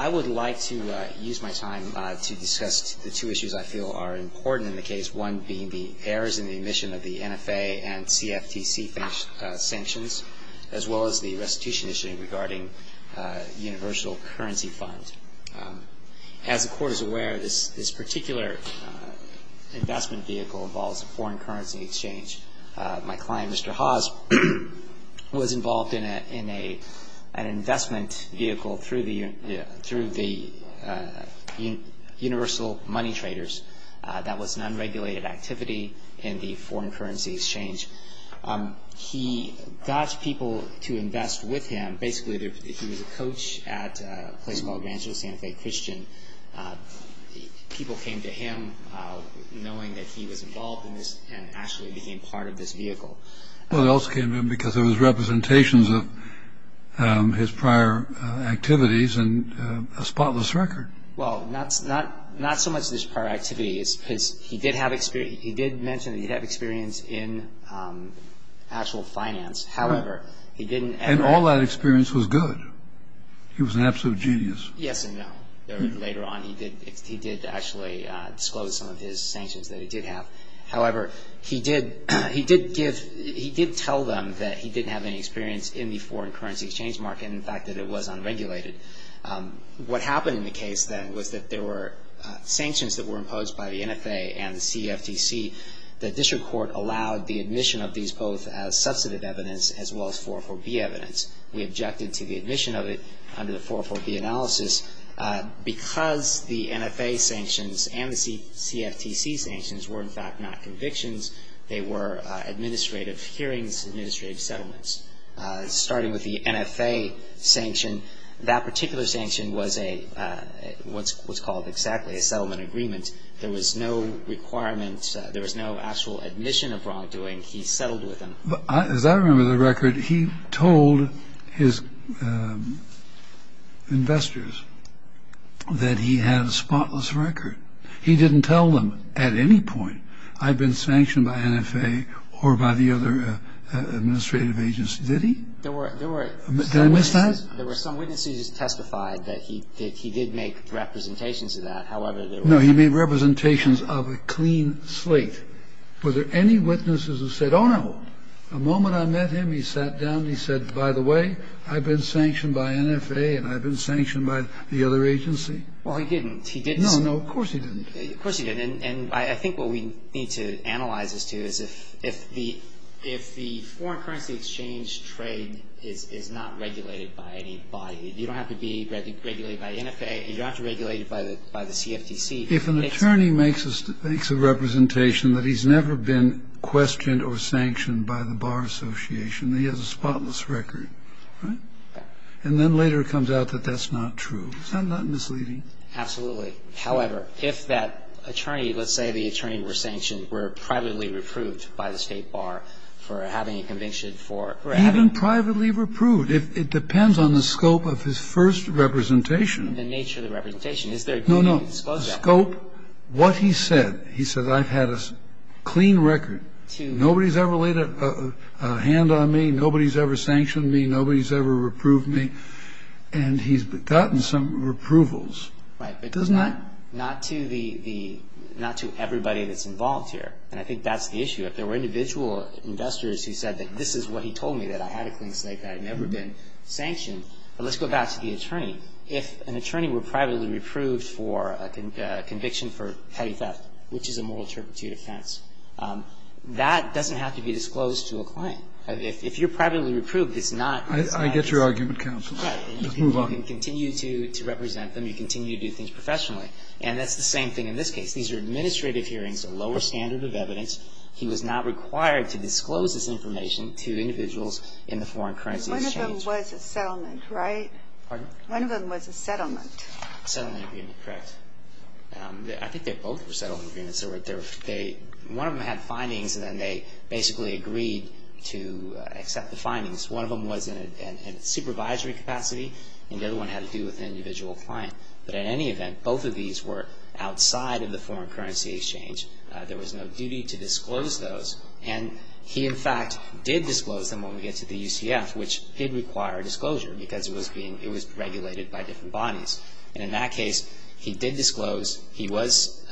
I would like to use my time to discuss the two issues I feel are important in the case, one being the errors in the admission of the NFA and CFTC sanctions, as well as the restitution issue regarding universal currency funds. As the Court is aware, this particular investment vehicle involves a foreign currency exchange. My client, Mr. Hauze, was involved in an investment vehicle through the universal money traders. That was an unregulated activity in the foreign currency exchange. He got people to invest with him. Basically, he was a coach at a place called San Jose Christian. People came to him knowing that he was involved in this and actually became part of this vehicle. Well, they also came to him because there were representations of his prior activities and a spotless record. Well, not so much his prior activities, because he did mention that he did have experience in actual finance. However, he didn't ever... And all that experience was good. He was an absolute genius. Yes and no. Later on, he did actually disclose some of his sanctions that he did have. However, he did tell them that he didn't have any experience in the foreign currency exchange market, and the fact that it was unregulated. What happened in the case then was that there were sanctions that were imposed by the NFA and the CFTC. The District Court allowed the admission of these both as subsidized evidence as well as 444B evidence. We objected to the admission of it under the 444B analysis because the NFA sanctions and the CFTC sanctions were in fact not convictions. They were administrative hearings, administrative settlements. Starting with the NFA sanction, that particular sanction was what's called exactly a settlement agreement. There was no requirement. There was no actual admission of wrongdoing. He settled with them. As I remember the record, he told his investors that he had a spotless record. He didn't tell them at any point, I've been sanctioned by NFA or by the other administrative agency. Did he? There were... Did I miss that? There were some witnesses who testified that he did make representations of that. However, there were... A moment I met him, he sat down and he said, by the way, I've been sanctioned by NFA and I've been sanctioned by the other agency. Well, he didn't. He didn't say... No, no. Of course he didn't. Of course he didn't. And I think what we need to analyze this to is if the foreign currency exchange trade is not regulated by any body, you don't have to be regulated by NFA, you don't have to be regulated by the CFTC... If an attorney makes a representation that he's never been questioned or sanctioned by the bar association, he has a spotless record, right? Yeah. And then later it comes out that that's not true. Is that not misleading? Absolutely. However, if that attorney, let's say the attorney were sanctioned or privately reproved by the state bar for having a conviction for... Even privately reproved. It depends on the scope of his first representation. The nature of the representation. Is there... No, no. Scope, what he said. He said, I've had a clean record. To... A hand on me. Nobody's ever sanctioned me. Nobody's ever reproved me. And he's gotten some reprovals. Right. But... Doesn't that... Not to the... Not to everybody that's involved here. And I think that's the issue. If there were individual investors who said that this is what he told me, that I had a clean slate, that I'd never been sanctioned. But let's go back to the attorney. If an attorney were privately reproved for a conviction for petty theft, which is a moral turpitude offense, that doesn't have to be disclosed to a client. If you're privately reproved, it's not... I get your argument, counsel. You can continue to represent them. You can continue to do things professionally. And that's the same thing in this case. These are administrative hearings, a lower standard of evidence. He was not required to disclose this information to individuals in the foreign currency exchange. One of them was a settlement, right? Pardon? One of them was a settlement. A settlement agreement, correct. I think they both were settlement agreements. One of them had findings and then they basically agreed to accept the findings. One of them was in a supervisory capacity and the other one had to do with an individual client. But in any event, both of these were outside of the foreign currency exchange. There was no duty to disclose those. And he, in fact, did disclose them when we get to the UCF, which did require disclosure because it was being... It was regulated by different bodies. And in that case, he did disclose. He was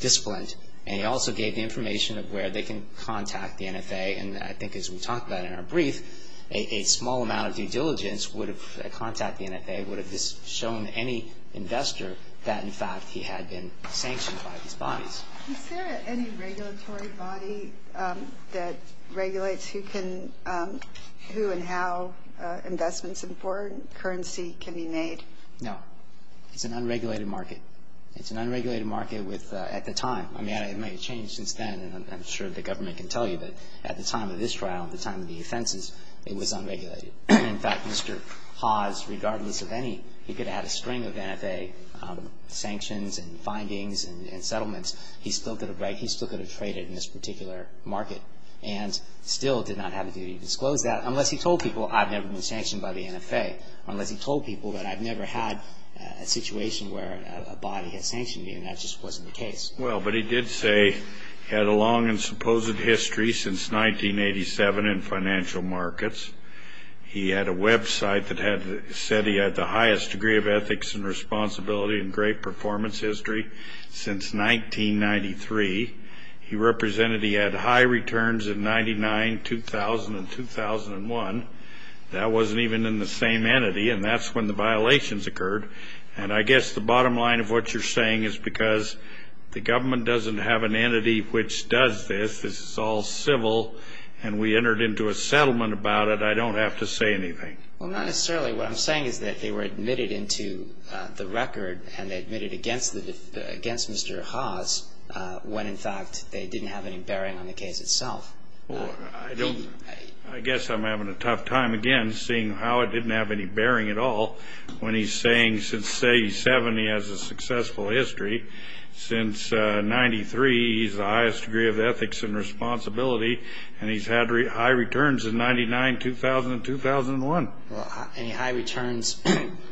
disciplined. And he also gave the information of where they can contact the NFA. And I think, as we talked about in our brief, a small amount of due diligence would have contacted the NFA, would have shown any investor that, in fact, he had been sanctioned by these bodies. Is there any regulatory body that regulates who and how investments in foreign currency can be made? No. It's an unregulated market. It's an unregulated market at the time. I mean, it may have changed since then, and I'm sure the government can tell you, but at the time of this trial, at the time of the offenses, it was unregulated. In fact, Mr. Hawes, regardless of any... He could have had a string of NFA sanctions and findings and settlements. He still could have traded in this particular market and still did not have the duty to disclose that unless he told people, I've never been sanctioned by the NFA. Unless he told people that I've never had a situation where a body has sanctioned me, and that just wasn't the case. Well, but he did say he had a long and supposed history since 1987 in financial markets. He had a website that said he had the highest degree of ethics and responsibility and great performance history since 1993. He represented he had high returns in 99, 2000, and 2001. That wasn't even in the same entity, and that's when the violations occurred. And I guess the bottom line of what you're saying is because the government doesn't have an entity which does this. This is all civil, and we entered into a settlement about it. I don't have to say anything. Well, not necessarily. What I'm saying is that they were admitted into the record and they admitted against Mr. Hawes when, in fact, they didn't have any bearing on the case itself. Well, I guess I'm having a tough time, again, seeing how it didn't have any bearing at all when he's saying since 87 he has a successful history. Since 93, he has the highest degree of ethics and responsibility, and he's had high returns in 99, 2000, and 2001. Well, any high returns,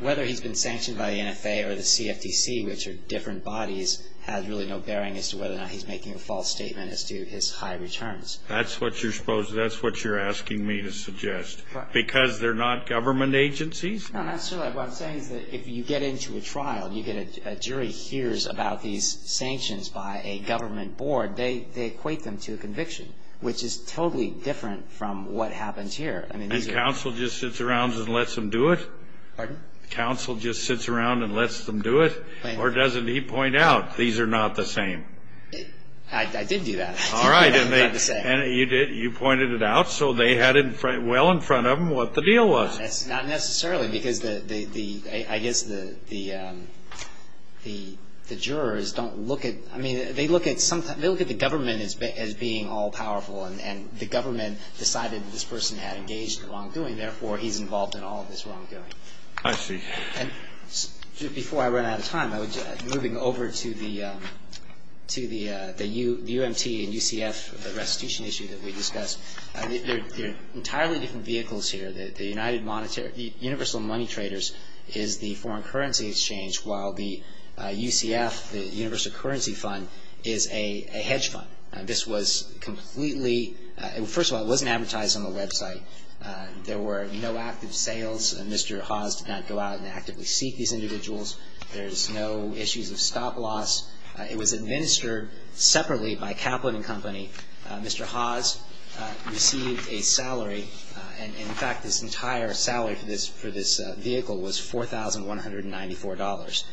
whether he's been sanctioned by the NFA or the CFTC, which are different bodies, has really no bearing as to whether or not he's making a false statement as to his high returns. That's what you're asking me to suggest. Because they're not government agencies? No, not necessarily. What I'm saying is that if you get into a trial and a jury hears about these sanctions by a government board, they equate them to a conviction, which is totally different from what happens here. And counsel just sits around and lets them do it? Pardon? Counsel just sits around and lets them do it? Or doesn't he point out, these are not the same? I did do that. All right. And you pointed it out, so they had well in front of them what the deal was. Not necessarily, because I guess the jurors don't look at... I mean, they look at the government as being all-powerful, and the government decided that this person had engaged in the wrongdoing, therefore he's involved in all of this wrongdoing. I see. And before I run out of time, moving over to the UMT and UCF restitution issue that we discussed. They're entirely different vehicles here. The Universal Money Traders is the foreign currency exchange while the UCF, the Universal Currency Fund, is a hedge fund. This was completely... First of all, it wasn't advertised on the website. There were no active sales, and Mr. Haas did not go out and actively seek these individuals. There's no issues of stop-loss. It was administered separately by Kaplan & Company. Mr. Haas received a salary, and in fact this entire salary for this vehicle was $4,194.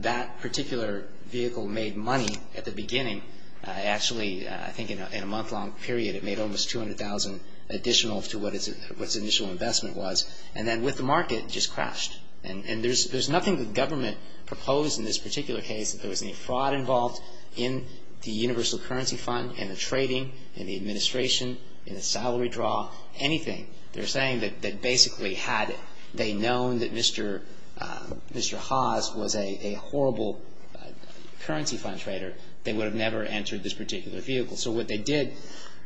That particular vehicle made money at the beginning. Actually, I think in a month-long period it made almost $200,000 additional to what its initial investment was. And then with the market, it just crashed. And there's nothing the government proposed in this particular case that there was any fraud involved in the Universal Currency Fund in the trading, in the administration, in the salary draw, anything. They're saying that basically had they known that Mr. Haas was a horrible currency fund trader, they would have never entered this particular vehicle. So what they did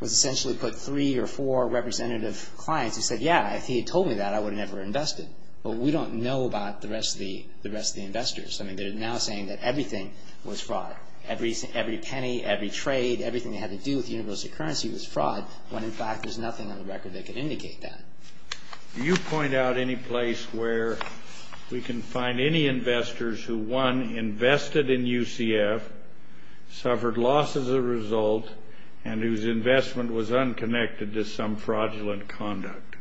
was essentially put three or four representative clients who said, yeah, if he had told me that, I would have never invested. But we don't know about the rest of the investors. I mean, they're now saying that everything was fraud. Every penny, every trade, everything that had to do with universal currency was fraud when in fact there's nothing on the record that could indicate that. Do you point out any place where we can find any investors who, one, invested in UCF, suffered loss as a result, and whose investment was unconnected to some fraudulent conduct?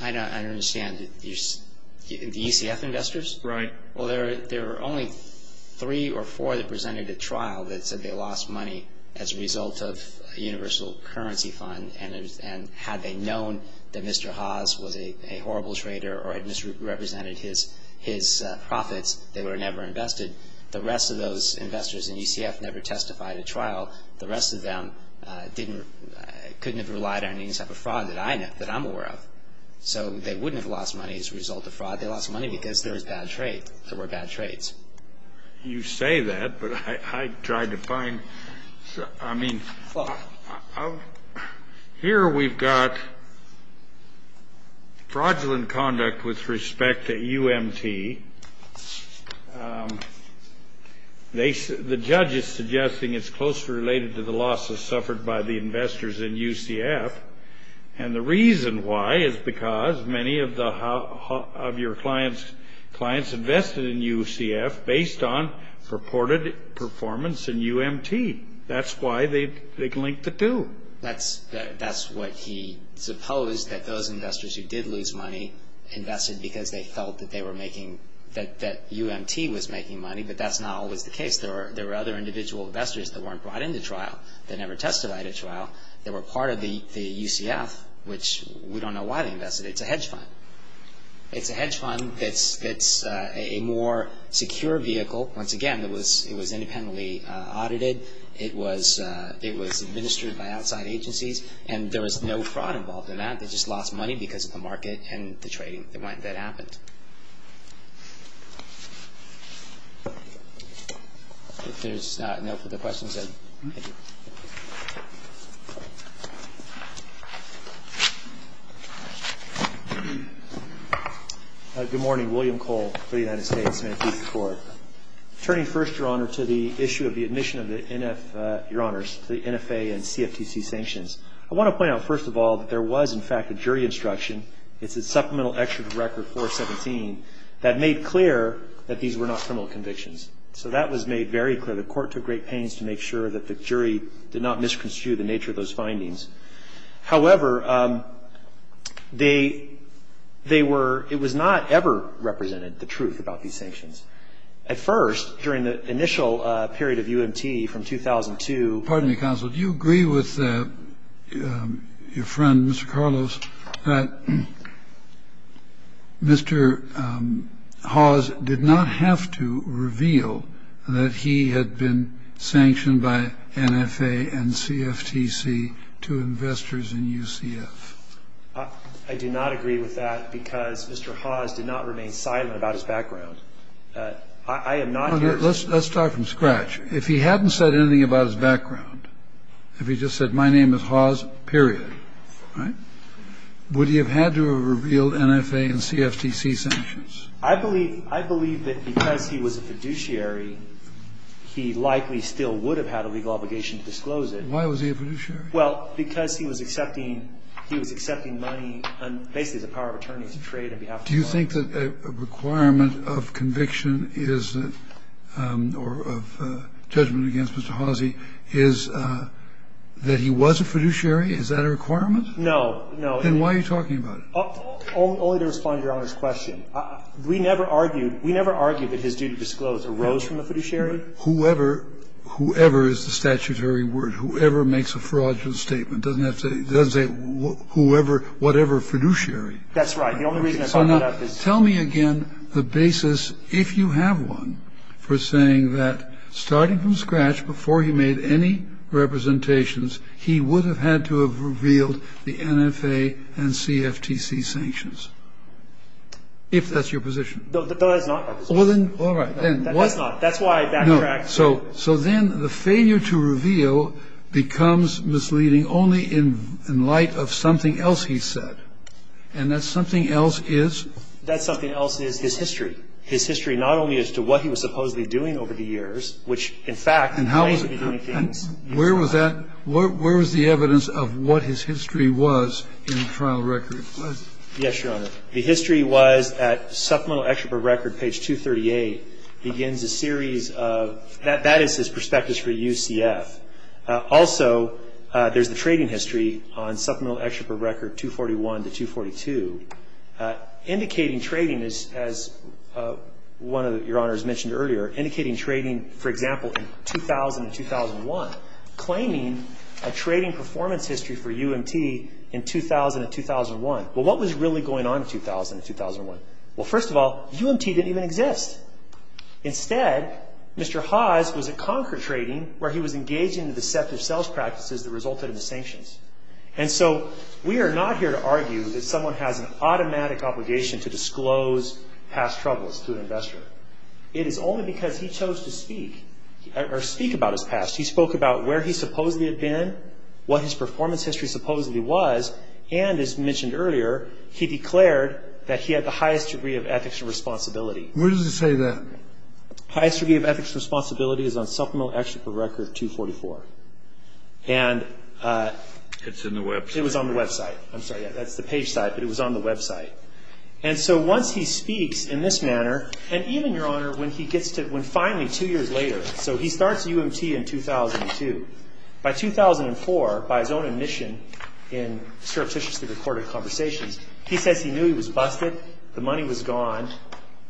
I don't understand. The UCF investors? Right. Well, there were only three or four that presented at trial that said they lost money as a result of a universal currency fund. And had they known that Mr. Haas was a horrible trader or had misrepresented his profits, they would have never invested. The rest of those investors in UCF never testified at trial. The rest of them didn't, couldn't have relied on any type of fraud that I know, that I'm aware of. So they wouldn't have lost money as a result of fraud. They lost money because there was bad trade. There were bad trades. You say that, but I tried to find... I mean... Here we've got fraudulent conduct with respect to UMT. The judge is suggesting it's closely related to the losses suffered by the investors in UCF. And the reason why is because many of your clients invested in UCF based on purported performance in UMT. That's why they linked the two. That's what he supposed that those investors who did lose money invested because they felt that UMT was making money. But that's not always the case. There were other individual investors that weren't brought into trial that never testified at trial. They were part of the UCF which we don't know why they invested. It's a hedge fund. It's a hedge fund that's a more secure vehicle. Once again, it was independently audited. It was administered by outside agencies. And there was no fraud involved in that. They just lost money because of the market and the trading that happened. If there's no further questions... Thank you. Good morning. William Cole for the United States Manifesto Court. Turning first, Your Honor, to the issue of the admission of the NF... Your Honors, the NFA and CFTC sanctions. I want to point out first of all that there was, in fact, a jury instruction. It's a Supplemental Excerpt of Record 417 that made clear that these were not criminal convictions. So that was made very clear. The court took great pains to make sure that the jury did not misconstrue the nature of those findings. However, they were... It was not ever represented the truth about these sanctions. At first, during the initial period of UMT from 2002... Pardon me, Counsel. Mr. Carlos that Mr. Hawes did not have to reveal that he had been sanctioned by NFA or CFTC or CFTC or CFTC or CFTC by NFA and CFTC to investors in UCF. I do not agree with that because Mr. Hawes did not remain silent about his background. I am not... Let's start from scratch. If he hadn't said anything about his background if he just said my name is Hawes period would he have had to have revealed NFA and CFTC sanctions? I believe that because he was a fiduciary he likely still would have had a legal obligation to disclose it. Why was he a fiduciary? Well, because he was accepting he was accepting money and basically the power of attorney to trade on behalf of the court. Do you think that a requirement of conviction is or of judgment against Mr. Hawsey is that he was a fiduciary? Is that a requirement? No, no. Then why are you talking about it? Only to respond to Your Honor's question. We never argued we never argued that his duty to disclose arose from a fiduciary. Whoever whoever is the statutory word whoever makes a fraudulent statement doesn't have to doesn't say whoever whatever fiduciary. That's right. The only reason I brought that up is Tell me again the basis if you have one for saying that starting from scratch before he made any representations he would have had to have revealed the NFA and CFTC sanctions. If that's your position. No, that's not my position. All right. That's not that's why I backtracked. So so then the failure to reveal becomes misleading only in light of something else he said and that something else is that something else is his history his history not only as to what he was supposedly doing over the years which in fact And how where was that where was the evidence of what his history was in the trial record? Yes, Your Honor. The history was at Supplemental Excerpt of Record page 238 begins a series of that is his perspectives for UCF. Also there's the trading history on Supplemental Excerpt of Record 241 to 242 indicating trading as one of Your Honor has mentioned earlier indicating trading for example in 2000 and 2001 claiming a trading performance history for UMT in 2000 and 2001 well what was really going on in 2000 and 2001? Well first of all UMT didn't even exist instead Mr. Haas was at Concord Trading was engaging in deceptive sales practices that resulted in the sanctions and so we are not here to argue that someone has an automatic obligation to disclose past troubles to an investor it is only because he chose to speak or speak about his past he spoke about where he supposedly had been what his performance history supposedly was and as mentioned earlier he declared that he had the highest degree of ethics and responsibility where does it say that? highest degree of ethics and responsibility is on supplemental action for record 244 and it's on the website I'm sorry that's the page side but it was on the website and so once he speaks in this manner and even your honor when he gets to when finally two years later so he starts UMT in 2002 by 2004 by his own admission in surreptitiously recorded conversations he says he knew he was busted the money was gone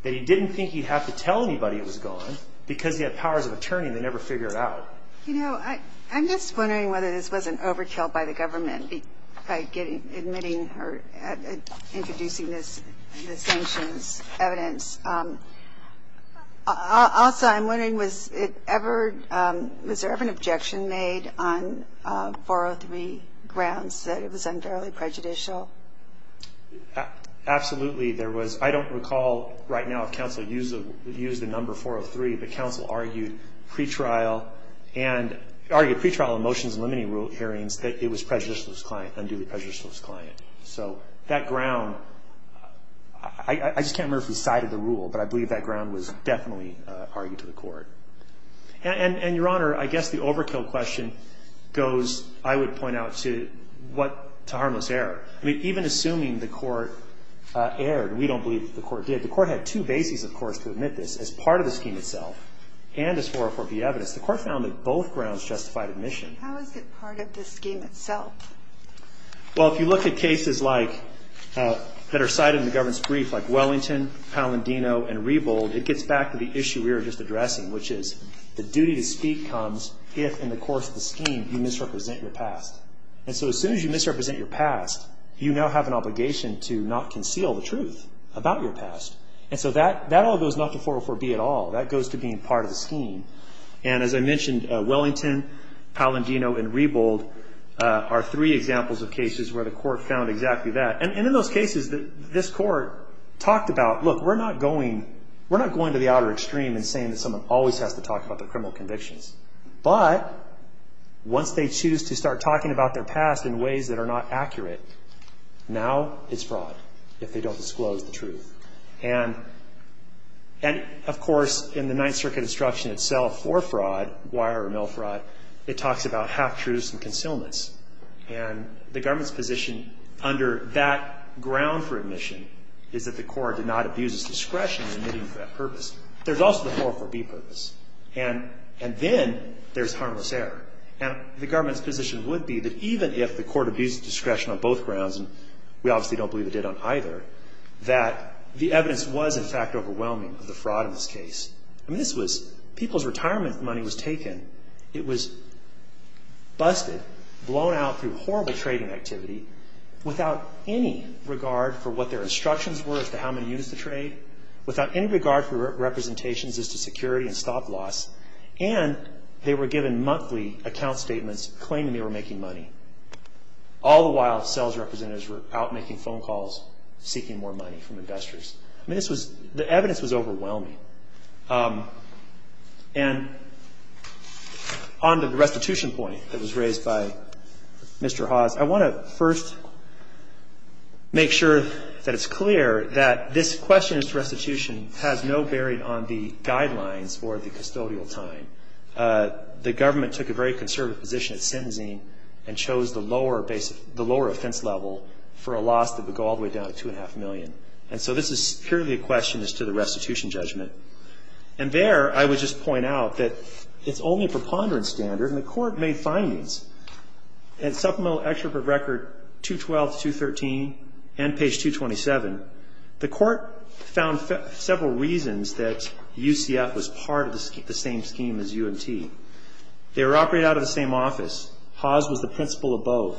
that he didn't think he'd have to tell anybody it was gone because he had powers of attorney and they never figured it out you know I'm just wondering whether this wasn't overkill by the government by introducing the sanctions evidence also I'm wondering was there ever an objection made on 403 grounds that it was unfairly and pre-trial motions limiting hearings that it was prejudicious client so that ground I just can't remember the side of the rule but I believe that ground was I found that both grounds justified admission how is it part of the scheme itself well if you look at cases like that are cited in the government brief it gets back to the issue we were addressing which is the duty to speak comes if you misrepresent your past have an obligation to not conceal the truth about your past that goes to being part of the scheme and as I mentioned Wellington Palandino and Rebold are three examples of cases where the court found exactly that and in those cases this court talked about look we're not going we're not going to the outer extreme and saying that someone always has to talk about their criminal convictions but once they choose to start talking about their past in ways that are not accurate now it's fraud if they don't disclose the truth and of course in the 9th circuit instruction itself for fraud wire or mail fraud it talks about concealments and the government's position under that ground for admission is that the court did not abuse discretion for that purpose there's also the purpose and then there's harmless error and the government's position would be that even if the court abused discretion on both grounds and we obviously don't believe it did on either that the evidence was it was in fact overwhelming the fraud in this case this was people's retirement money was taken it was busted blown out through horrible trading activity without any regard for what their instructions were as to how many units to trade without any regard for representations as to security and stop-loss and they were given monthly account statements claiming they were making money all the while sales representatives were out making phone calls seeking more money from investors this was the evidence was overwhelming and on the restitution point that was raised by Mr. Haas I want to first make sure that it's clear that this question of restitution has no bearing on the guidelines or the custodial time the government took a very conservative position and chose the lower offense level for a loss that would go all the way down to 2.5 million and so this is purely a question as to the restitution judgment and there I would just point out that it's only a supplementary record 212 to 213 and page 227 the court found several reasons that UCF was part of the same scheme as UMT they were operated out of the same office Haas was the executive director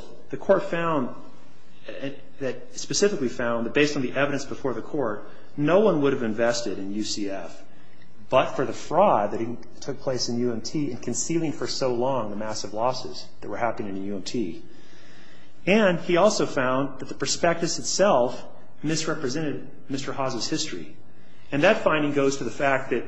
of UMT and he also found that the prospectus itself misrepresented Mr. Haas' history and that finding goes to the fact that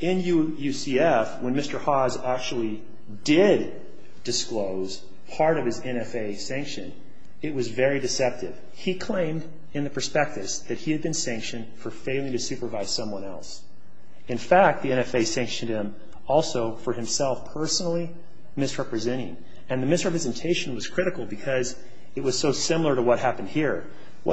in UCF when Mr. Haas actually did disclose part of his NFA sanction it was very deceptive he claimed in the prospectus that he had been sanctioned for failing to supervise someone else in fact the NFA sanctioned him also for himself personally misrepresenting and the misrepresentation was critical because it was so similar to what happened here the was deceptive he claimed to supervise in fact the NFA sanctioned him also for himself personally misrepresenting and the misrepresentation was critical because it was so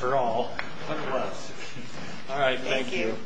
similar to what